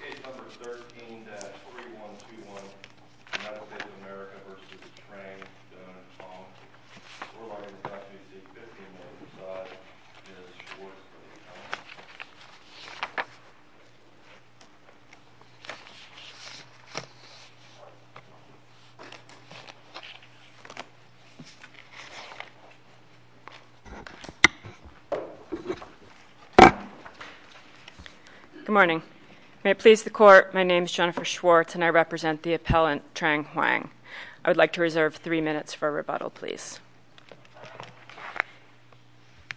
Released under Bob Gore. Good morning. May it please the court, my name is Jennifer Schwartz and I represent the appellant, Trang Hoang. I would like to reserve three minutes for rebuttal, please.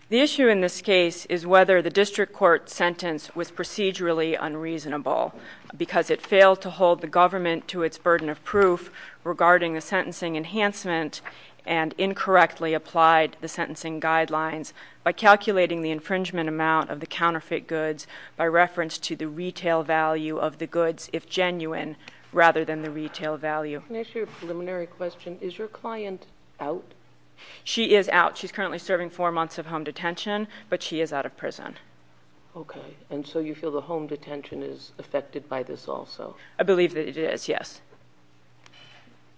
The issue in this case is whether the district court sentence was procedurally unreasonable because it failed to hold the government to its burden of proof regarding the sentencing enhancement and incorrectly applied the sentencing guidelines by calculating the infringement amount of the counterfeit goods by reference to the retail value of the goods if genuine rather than the retail value. Can I ask you a preliminary question? Is your client out? She is out. She's currently serving four months of home detention, but she is out of prison. Okay. And so you feel the home detention is affected by this also? I believe that it is, yes.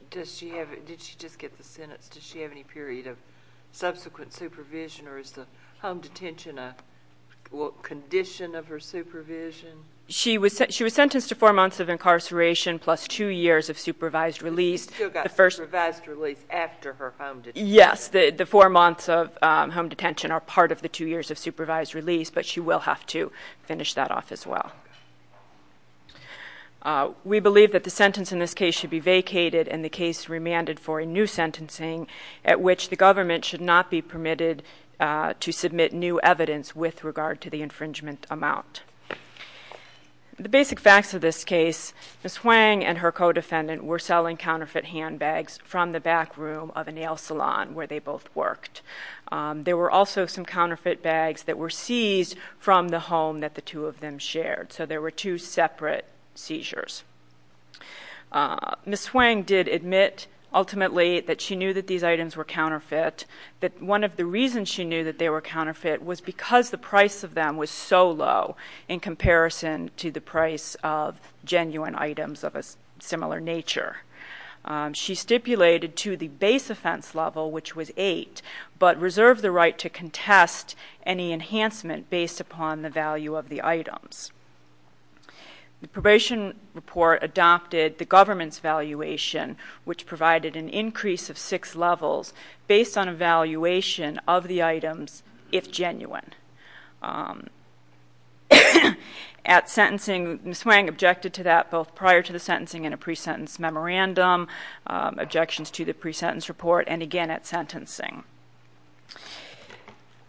Does she have, did she just get the sentence, does she have any period of subsequent supervision or is the home detention a condition of her supervision? She was sentenced to four months of incarceration plus two years of supervised release. She still got supervised release after her home detention? Yes, the four months of home detention are part of the two years of supervised release, but she will have to finish that off as well. We believe that the sentence in this case should be vacated and the case remanded for a new sentencing at which the government should not be permitted to submit new evidence with regard to the infringement amount. The basic facts of this case, Ms. Hwang and her co-defendant were selling counterfeit handbags from the back room of a nail salon where they both worked. There were also some counterfeit bags that were seized from the home that the two of them shared. So there were two separate seizures. Ms. Hwang did admit ultimately that she knew that these items were counterfeit, but one of the reasons she knew that they were counterfeit was because the price of them was so low in comparison to the price of genuine items of a similar nature. She stipulated to the base offense level, which was eight, but reserved the right to contest any enhancement based upon the value of the items. The probation report adopted the government's valuation, which provided an increase of six levels based on a valuation of the items if genuine. At sentencing, Ms. Hwang objected to that both prior to the sentencing in a pre-sentence memorandum, objections to the pre-sentence report, and again at sentencing.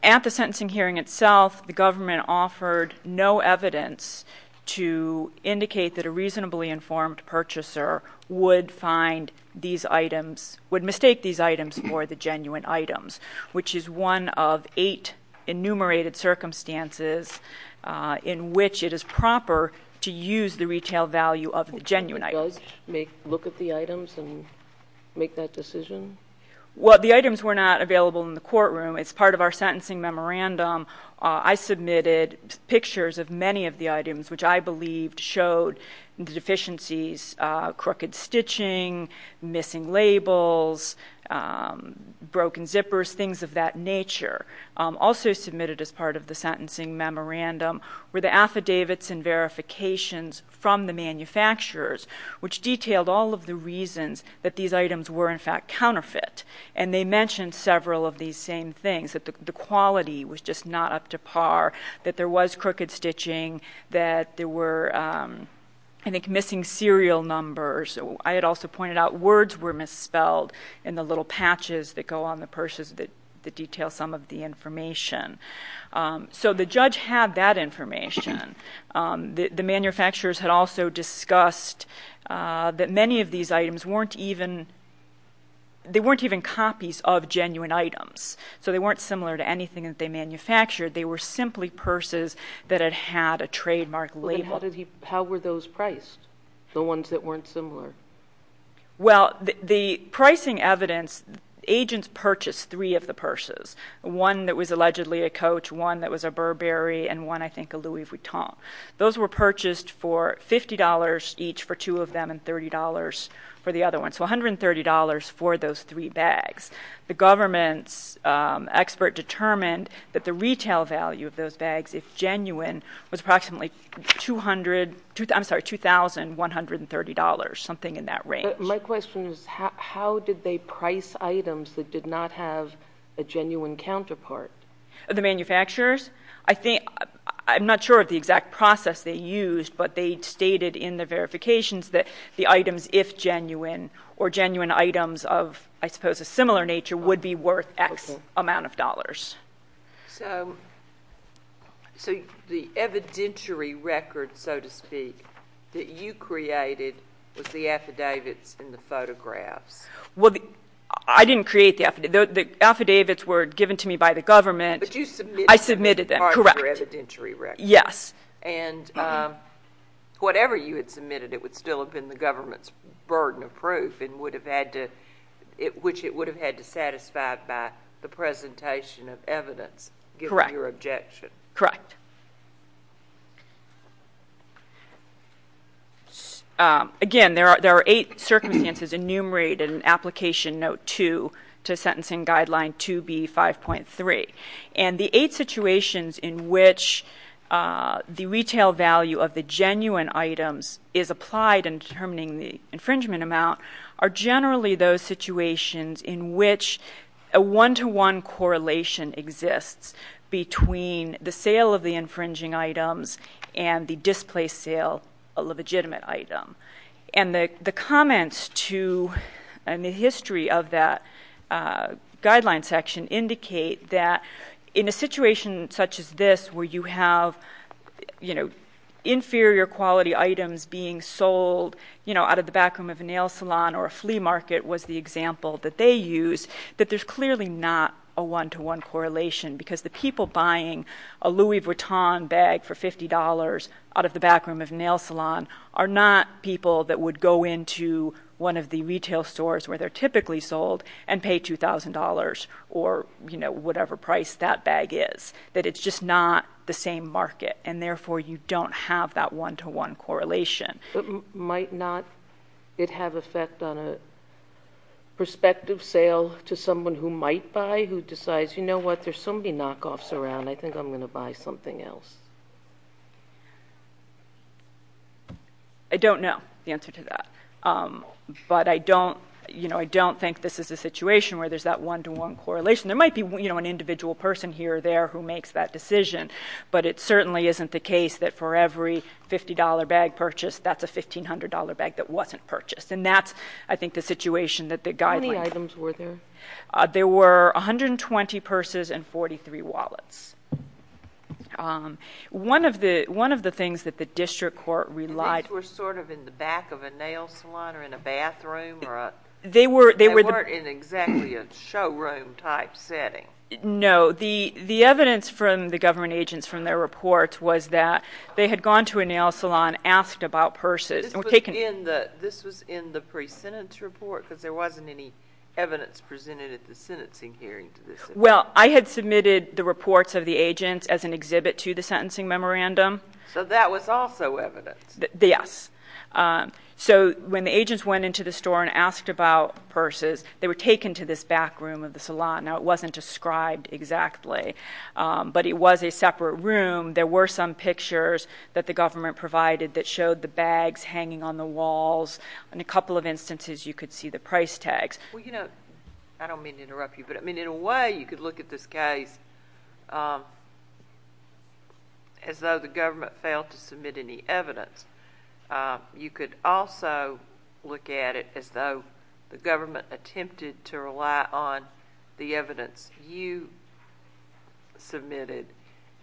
At the sentencing hearing itself, the government offered no evidence to indicate that a reasonably informed purchaser would find these items, would mistake these items for the genuine items, which is one of eight enumerated circumstances in which it is proper to use the retail value of the genuine items. It does look at the items and make that decision? Well, the items were not available in the courtroom. As part of our sentencing memorandum, I submitted pictures of many of the items, which I believed showed the deficiencies, crooked stitching, missing labels, broken zippers, things of that nature. Also submitted as part of the sentencing memorandum were the affidavits and verifications from the manufacturers, which detailed all of the reasons that these items were in fact counterfeit. They mentioned several of these same things, that the quality was just not up to par, that there was crooked stitching, that there were, I think, missing serial numbers. I had also pointed out words were misspelled in the little patches that go on the purses that detail some of the information. So the judge had that information. The manufacturers had also discussed that many of these items weren't even copies of genuine items. So they weren't similar to anything that they manufactured. They were simply purses that had had a trademark label. How were those priced, the ones that weren't similar? Well, the pricing evidence, agents purchased three of the purses, one that was allegedly a coach, one that was a Burberry, and one, I think, a Louis Vuitton. Those were purchased for $50 each for two of them and $30 for the other one. So $130 for those three bags. The government's expert determined that the retail value of those bags, if genuine, was approximately $2,130, something in that range. My question is, how did they price items that did not have a genuine counterpart? The manufacturers? I'm not sure of the exact process they used, but they stated in the verifications that the items, if genuine, or genuine items of, I suppose, a similar nature, would be worth X amount of dollars. So the evidentiary record, so to speak, that you created was the affidavits and the photographs. Well, I didn't create the affidavits. The affidavits were given to me by the government. But you submitted them. I submitted them, correct. Part of your evidentiary record. Yes. And whatever you had submitted, it would still have been the government's burden of proof, which it would have had to satisfy by the presentation of evidence, given your objection. Correct. Again, there are eight circumstances enumerated in Application Note 2 to Sentencing Guideline 2B5.3. And the eight situations in which the retail value of the genuine items is applied in determining the infringement amount are generally those situations in which a one-to-one correlation exists between the sale of the infringing items and the displaced sale of a legitimate item. And the comments to the history of that guideline section indicate that in a situation such as this, where you have inferior quality items being sold out of the backroom of a nail salon or a flea market, was the example that they used, that there's clearly not a one-to-one correlation. Because the people buying a Louis Vuitton bag for $50 out of the backroom of a nail salon are not people that would go into one of the retail stores where they're typically sold and pay $2,000 or whatever price that bag is, that it's just not the same market, and therefore you don't have that one-to-one correlation. But might not it have effect on a prospective sale to someone who might buy, who decides, you know what, there's so many knockoffs around, I think I'm going to buy something else? I don't know the answer to that. But I don't think this is a situation where there's that one-to-one correlation. There might be an individual person here or there who makes that decision, but it certainly isn't the case that for every $50 bag purchased, that's a $1,500 bag that wasn't purchased. And that's, I think, the situation that the guideline— How many items were there? There were 120 purses and 43 wallets. One of the things that the district court relied— The purses were sort of in the back of a nail salon or in a bathroom or a— They were— They weren't in exactly a showroom-type setting. No. The evidence from the government agents from their reports was that they had gone to a nail salon, asked about purses. This was in the pre-sentence report because there wasn't any evidence presented at the sentencing hearing. Well, I had submitted the reports of the agents as an exhibit to the sentencing memorandum. So that was also evidence. Yes. So when the agents went into the store and asked about purses, they were taken to this back room of the salon. Now, it wasn't described exactly, but it was a separate room. There were some pictures that the government provided that showed the bags hanging on the walls. In a couple of instances, you could see the price tags. Well, you know, I don't mean to interrupt you, but, I mean, in a way, you could look at this case as though the government failed to submit any evidence. You could also look at it as though the government attempted to rely on the evidence you submitted,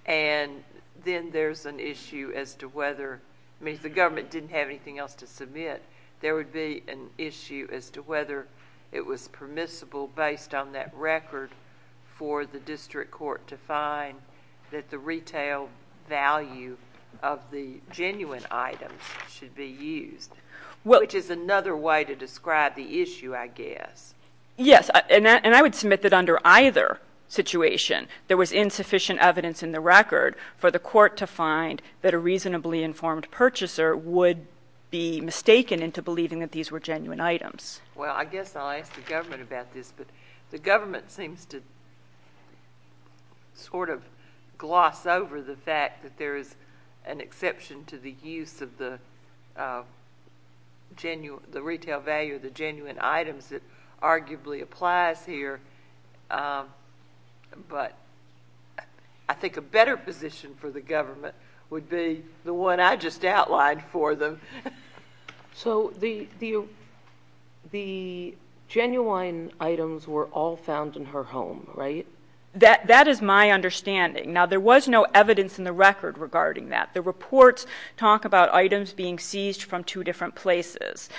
and then there's an issue as to whether—I mean, if the government didn't have anything else to submit, there would be an issue as to whether it was permissible, based on that record, for the district court to find that the retail value of the genuine items should be used, which is another way to describe the issue, I guess. Yes, and I would submit that under either situation, there was insufficient evidence in the record for the court to find that a reasonably informed purchaser would be mistaken into believing that these were genuine items. Well, I guess I'll ask the government about this, but the government seems to sort of gloss over the fact that there is an exception to the use of the retail value of the genuine items that arguably applies here. But I think a better position for the government would be the one I just outlined for them. So the genuine items were all found in her home, right? That is my understanding. Now, there was no evidence in the record regarding that. The reports talk about items being seized from two different places.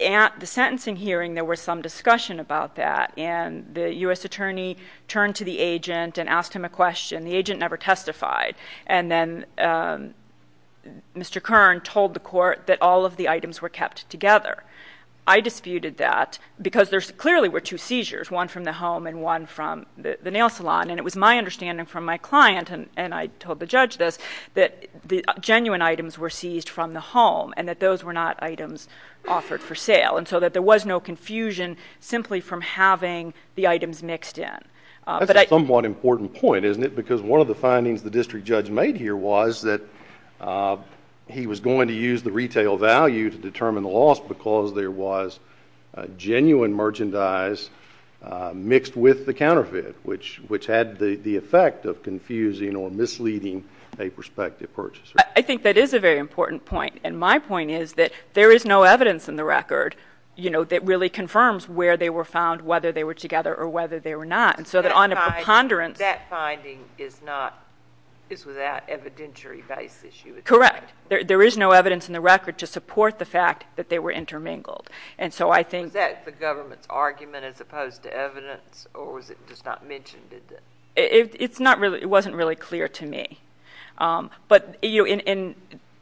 At the sentencing hearing, there was some discussion about that, and the U.S. attorney turned to the agent and asked him a question. The agent never testified. And then Mr. Kern told the court that all of the items were kept together. I disputed that because there clearly were two seizures, one from the home and one from the nail salon, and it was my understanding from my client, and I told the judge this, that the genuine items were seized from the home and that those were not items offered for sale, and so that there was no confusion simply from having the items mixed in. That's a somewhat important point, isn't it? Because one of the findings the district judge made here was that he was going to use the retail value to determine the loss because there was genuine merchandise mixed with the counterfeit, which had the effect of confusing or misleading a prospective purchaser. I think that is a very important point, and my point is that there is no evidence in the record, you know, that really confirms where they were found, whether they were together or whether they were not. And so on a preponderance— That finding is without evidentiary basis. Correct. There is no evidence in the record to support the fact that they were intermingled. And so I think— Was that the government's argument as opposed to evidence, or was it just not mentioned? It's not really—it wasn't really clear to me. But, you know, in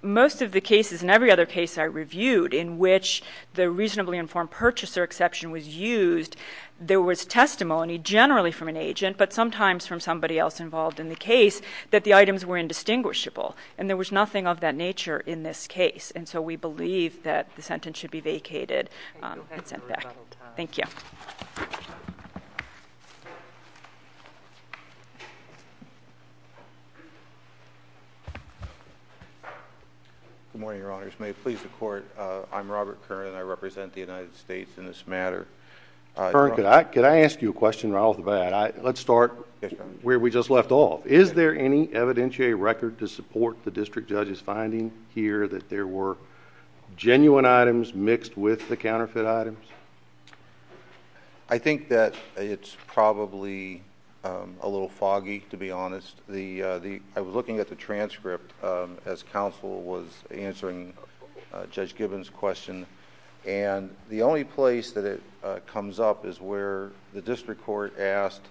most of the cases and every other case I reviewed in which the reasonably informed purchaser exception was used, there was testimony generally from an agent, but sometimes from somebody else involved in the case that the items were indistinguishable, and there was nothing of that nature in this case. And so we believe that the sentence should be vacated and sent back. Thank you. Good morning, Your Honors. May it please the Court, I'm Robert Kern, and I represent the United States in this matter. Mr. Kern, could I ask you a question right off the bat? Let's start where we just left off. Is there any evidentiary record to support the district judge's finding here that there were genuine items mixed with the counterfeit items? I think that it's probably a little foggy, to be honest. I was looking at the transcript as counsel was answering Judge Gibbons' question, and the only place that it comes up is where the district court asked,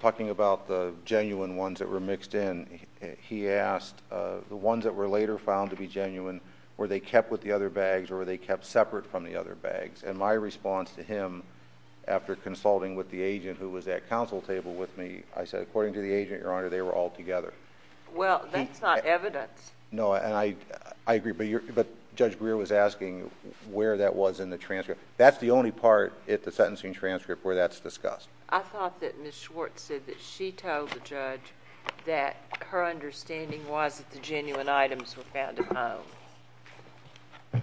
talking about the genuine ones that were mixed in, he asked the ones that were later found to be genuine, were they kept with the other bags or were they kept separate from the other bags? And my response to him, after consulting with the agent who was at counsel table with me, I said, according to the agent, Your Honor, they were all together. Well, that's not evidence. No, and I agree, but Judge Greer was asking where that was in the transcript. That's the only part at the sentencing transcript where that's discussed. I thought that Ms. Schwartz said that she told the judge that her understanding was that the genuine items were found at home,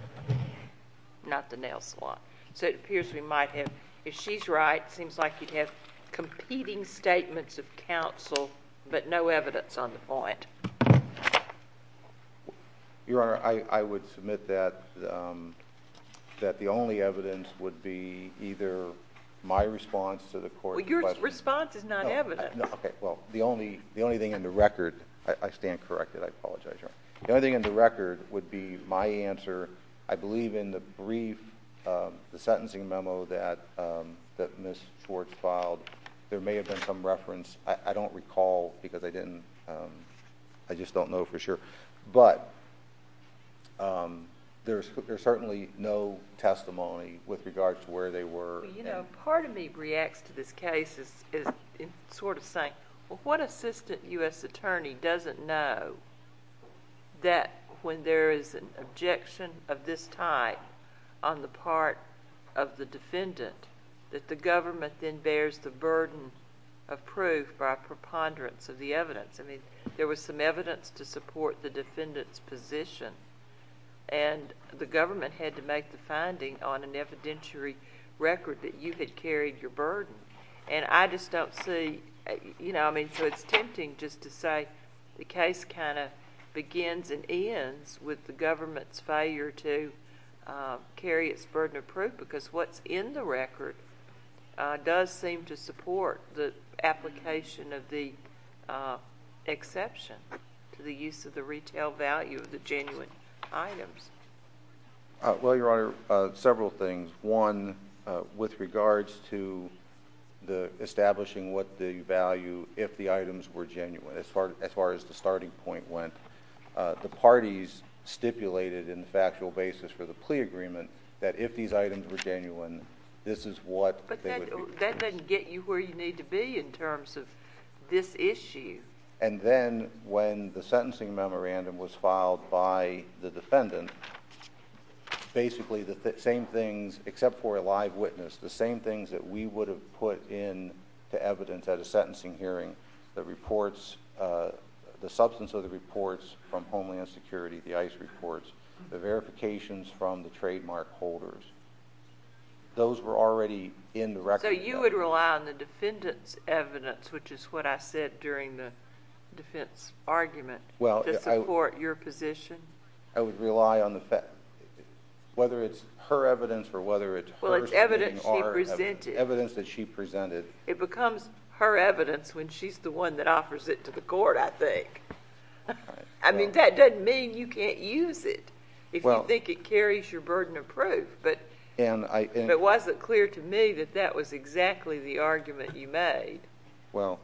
not the nail salon. So it appears we might have... if she's right, it seems like you'd have competing statements of counsel but no evidence on the point. Your Honor, I would submit that the only evidence would be either my response to the court's question... Well, your response is not evidence. Okay. Well, the only thing in the record... I stand corrected. I apologize, Your Honor. The only thing in the record would be my answer, I believe, in the brief, the sentencing memo that Ms. Schwartz filed. There may have been some reference. I don't recall because I didn't... I just don't know for sure. But there's certainly no testimony with regard to where they were. Well, you know, part of me reacts to this case as sort of saying, what assistant U.S. attorney doesn't know that when there is an objection of this type on the part of the defendant that the government then bears the burden of proof by preponderance of the evidence? I mean, there was some evidence to support the defendant's position and the government had to make the finding on an evidentiary record that you had carried your burden. And I just don't see... I mean, so it's tempting just to say the case kind of begins and ends with the government's failure to carry its burden of proof because what's in the record does seem to support the application of the exception to the use of the retail value of the genuine items. Well, Your Honor, several things. One, with regards to establishing what the value, if the items were genuine, as far as the starting point went, the parties stipulated in the factual basis for the plea agreement that if these items were genuine, this is what... But that doesn't get you where you need to be in terms of this issue. And then when the sentencing memorandum was filed by the defendant, basically the same things, except for a live witness, the same things that we would have put into evidence at a sentencing hearing, the reports, the substance of the reports from Homeland Security, the ICE reports, the verifications from the trademark holders. Those were already in the record. So you would rely on the defendant's evidence, which is what I said during the defense argument, to support your position? I would rely on the fact... whether it's her evidence or whether it's hers... Well, it's evidence she presented. Evidence that she presented. It becomes her evidence when she's the one that offers it to the court, I think. I mean, that doesn't mean you can't use it if you think it carries your burden of proof. But was it clear to me that that was exactly the argument you made? Well,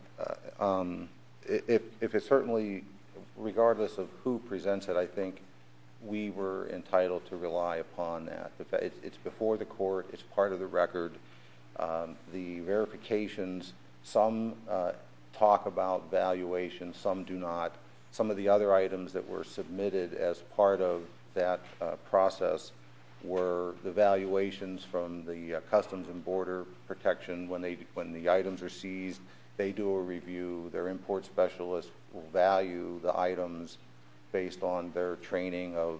if it certainly... regardless of who presents it, I think we were entitled to rely upon that. It's before the court. It's part of the record. The verifications... some talk about valuation. Some do not. Some of the other items that were submitted as part of that process were the valuations from the Customs and Border Protection. When the items are seized, they do a review. Their import specialist will value the items based on their training of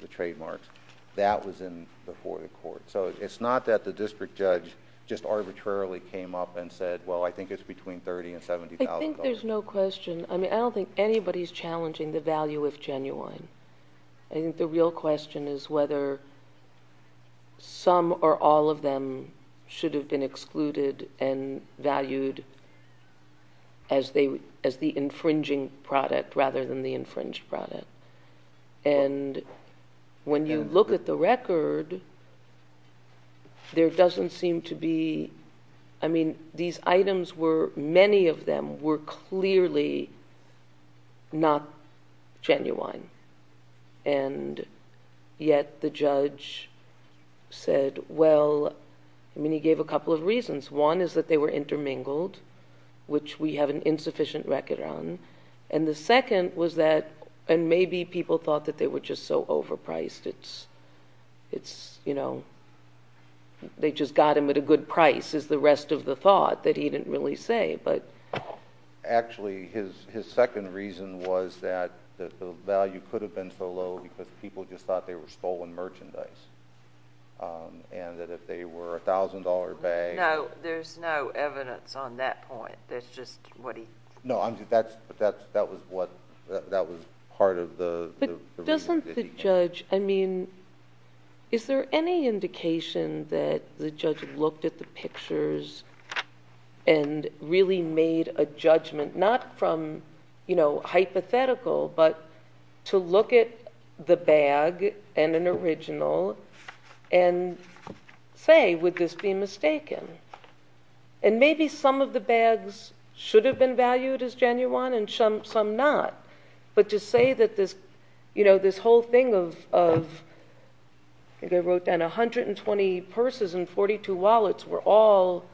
the trademarks. That was before the court. So it's not that the district judge just arbitrarily came up and said, well, I think it's between $30,000 and $70,000. I think there's no question. I mean, I don't think anybody's challenging the value of genuine. I think the real question is whether some or all of them should have been excluded and valued as the infringing product rather than the infringed product. And when you look at the record, there doesn't seem to be... I mean, these items were... many of them were clearly not genuine. And yet the judge said, well... I mean, he gave a couple of reasons. One is that they were intermingled, which we have an insufficient record on. And the second was that... and maybe people thought that they were just so overpriced. It's, you know, they just got them at a good price is the rest of the thought that he didn't really say. Actually, his second reason was that the value could have been so low because people just thought they were stolen merchandise. And that if they were a $1,000 bag... No, there's no evidence on that point. That's just what he... No, that was part of the... Well, doesn't the judge... I mean, is there any indication that the judge looked at the pictures and really made a judgment, not from, you know, hypothetical, but to look at the bag and an original and say, would this be mistaken? And maybe some of the bags should have been valued as genuine and some not. But to say that this whole thing of... I think I wrote down 120 purses and 42 wallets were all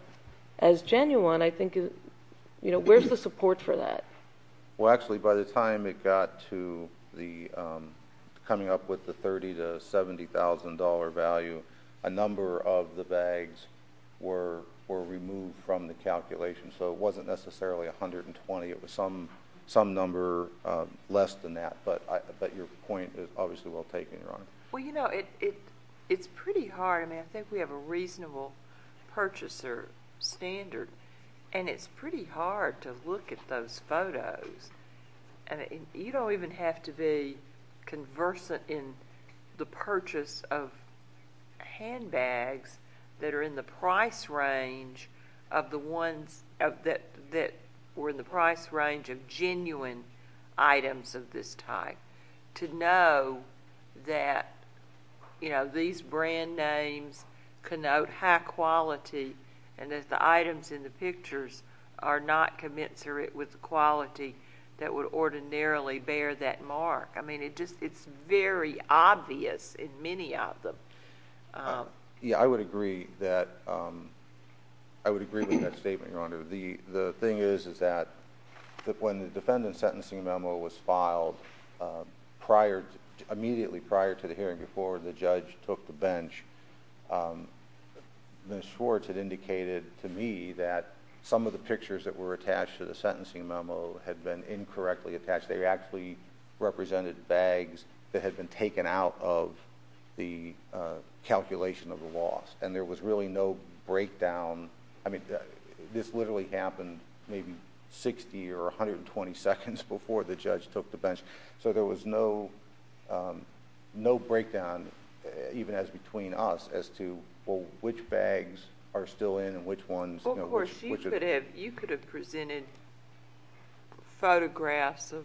as genuine. I think... you know, where's the support for that? Well, actually, by the time it got to the... coming up with the $30,000 to $70,000 value, a number of the bags were removed from the calculation. So it wasn't necessarily 120. It was some number less than that. But your point is obviously well taken, Your Honor. Well, you know, it's pretty hard. I mean, I think we have a reasonable purchaser standard, and it's pretty hard to look at those photos. You don't even have to be conversant in the purchase of handbags that are in the price range of genuine items of this type to know that these brand names connote high quality and that the items in the pictures are not commensurate with quality that would ordinarily bear that mark. I mean, it's very obvious in many of them. Yeah, I would agree that... I would agree with that statement, Your Honor. The thing is that when the defendant's sentencing memo was filed, immediately prior to the hearing, before the judge took the bench, Ms. Schwartz had indicated to me that some of the pictures that were attached to the sentencing memo had been incorrectly attached. They actually represented bags that had been taken out of the calculation of the loss, and there was really no breakdown. I mean, this literally happened maybe 60 or 120 seconds before the judge took the bench. So there was no breakdown, even as between us, as to which bags are still in and which ones... Of what was included, you could have presented photographs of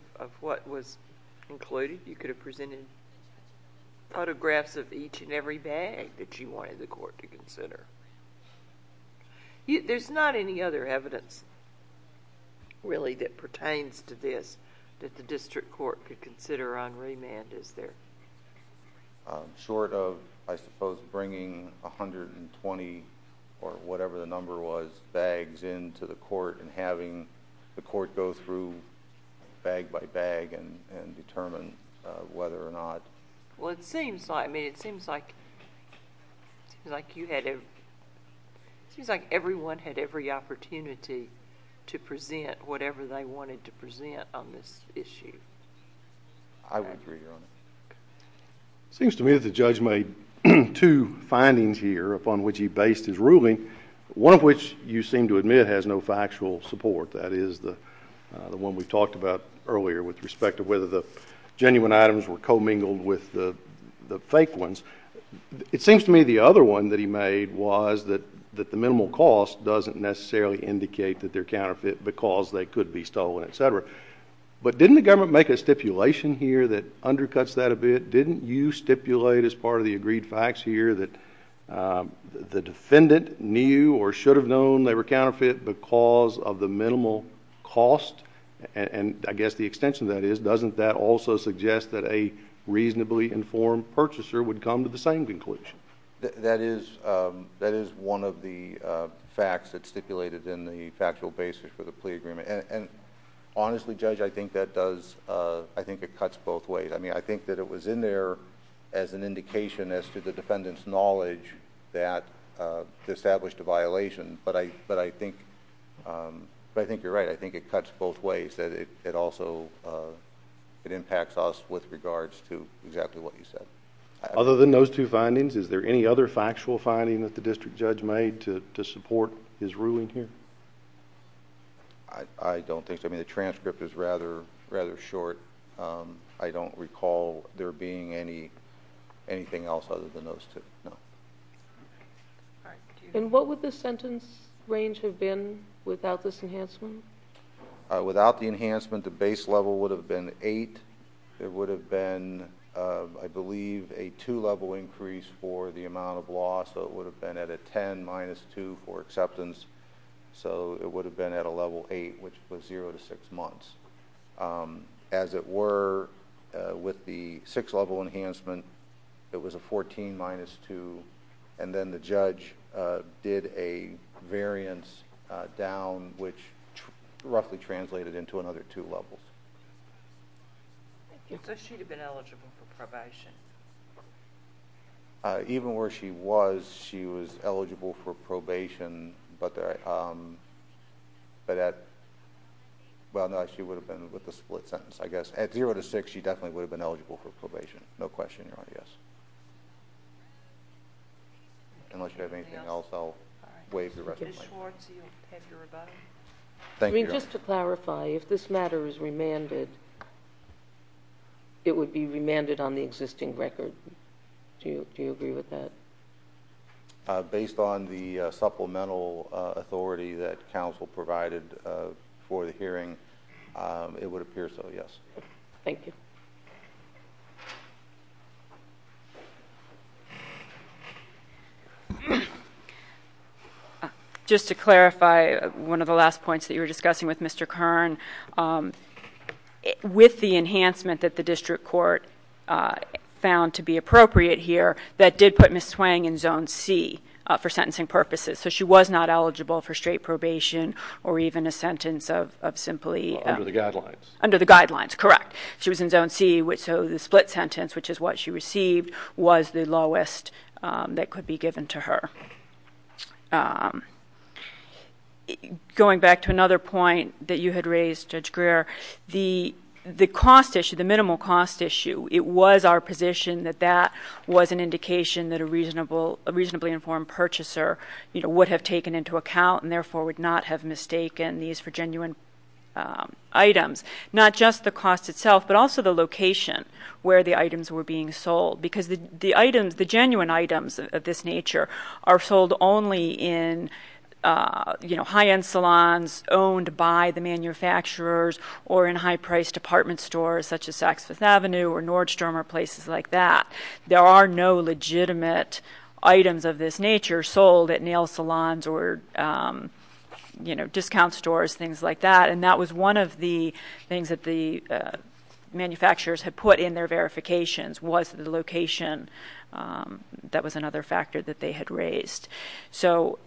each and every bag that you wanted the court to consider. There's not any other evidence, really, that pertains to this that the district court could consider on remand, is there? Short of, I suppose, bringing 120 or whatever the number was, bags into the court and having the court go through bag by bag and determine whether or not... Well, it seems like... I mean, it seems like you had... It seems like everyone had every opportunity to present whatever they wanted to present on this issue. I would agree, Your Honor. It seems to me that the judge made two findings here upon which he based his ruling, one of which, you seem to admit, has no factual support. That is the one we talked about earlier with respect to whether the genuine items were commingled with the fake ones. It seems to me the other one that he made was that the minimal cost doesn't necessarily indicate that they're counterfeit because they could be stolen, et cetera. But didn't the government make a stipulation here that undercuts that a bit? Didn't you stipulate as part of the agreed facts here that the defendant knew or should have known they were counterfeit because of the minimal cost, and I guess the extension of that is, doesn't that also suggest that a reasonably informed purchaser would come to the same conclusion? That is one of the facts that's stipulated in the factual basis for the plea agreement. And honestly, Judge, I think that does... I think it cuts both ways. I think that it was in there as an indication as to the defendant's knowledge that they established a violation, but I think you're right. I think it cuts both ways. It also impacts us with regards to exactly what you said. Other than those two findings, is there any other factual finding that the district judge made to support his ruling here? I don't think so. The transcript is rather short. I don't recall there being anything else other than those two. No. All right. And what would the sentence range have been without this enhancement? Without the enhancement, the base level would have been 8. It would have been, I believe, a 2-level increase for the amount of loss, so it would have been at a 10 minus 2 for acceptance. So it would have been at a level 8, which was 0 to 6 months. As it were, with the 6-level enhancement, it was a 14 minus 2, and then the judge did a variance down, which roughly translated into another 2 levels. So she would have been eligible for probation? Even where she was, she was eligible for probation, but at—well, no, she would have been with a split sentence, I guess. At 0 to 6, she definitely would have been eligible for probation. No question, Your Honor, yes. Unless you have anything else, I'll waive the rest of the mic. Ms. Schwartz, you have your rebuttal. Thank you, Your Honor. I mean, just to clarify, if this matter is remanded, it would be remanded on the existing record. Do you agree with that? Based on the supplemental authority that counsel provided for the hearing, it would appear so, yes. Thank you. Just to clarify one of the last points that you were discussing with Mr. Kern, with the enhancement that the district court found to be appropriate here, that did put Ms. Swang in zone C for sentencing purposes. So she was not eligible for straight probation or even a sentence of simply— Under the guidelines. Under the guidelines, correct. She was in zone C, so the split sentence, which is what she received, was the lowest that could be given to her. Going back to another point that you had raised, Judge Greer, the cost issue, the minimal cost issue, it was our position that that was an indication that a reasonably informed purchaser would have taken into account and therefore would not have mistaken these for genuine items. Not just the cost itself, but also the location where the items were being sold, because the items, the genuine items of this nature are sold only in high-end salons, owned by the manufacturers, or in high-priced department stores, such as Saks Fifth Avenue or Nordstrom or places like that. There are no legitimate items of this nature sold at nail salons or discount stores, things like that. And that was one of the things that the manufacturers had put in their verifications, was the location. That was another factor that they had raised. So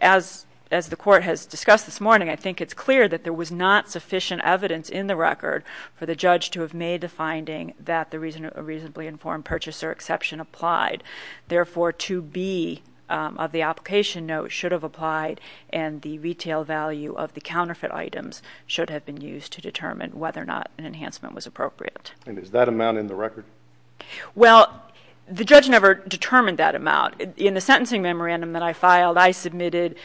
as the Court has discussed this morning, I think it's clear that there was not sufficient evidence in the record for the judge to have made the finding that the reasonably informed purchaser exception applied. Therefore, 2B of the application note should have applied, and the retail value of the counterfeit items should have been used to determine whether or not an enhancement was appropriate. And is that amount in the record? Well, the judge never determined that amount. In the sentencing memorandum that I filed, I submitted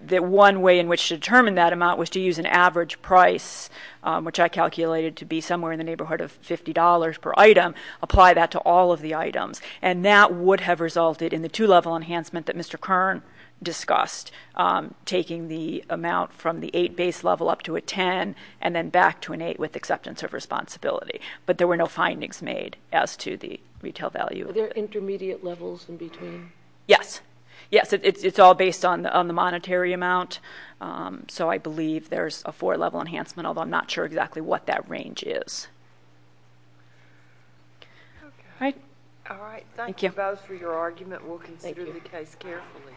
that one way in which to determine that amount was to use an average price, which I calculated to be somewhere in the neighborhood of $50 per item, apply that to all of the items. And that would have resulted in the two-level enhancement that Mr. Kern discussed, taking the amount from the 8 base level up to a 10, and then back to an 8 with acceptance of responsibility. But there were no findings made as to the retail value. Are there intermediate levels in between? Yes. Yes, it's all based on the monetary amount. So I believe there's a four-level enhancement, although I'm not sure exactly what that range is. Okay. All right. Thank you. Thank you both for your argument. We'll consider the case carefully. Thank you.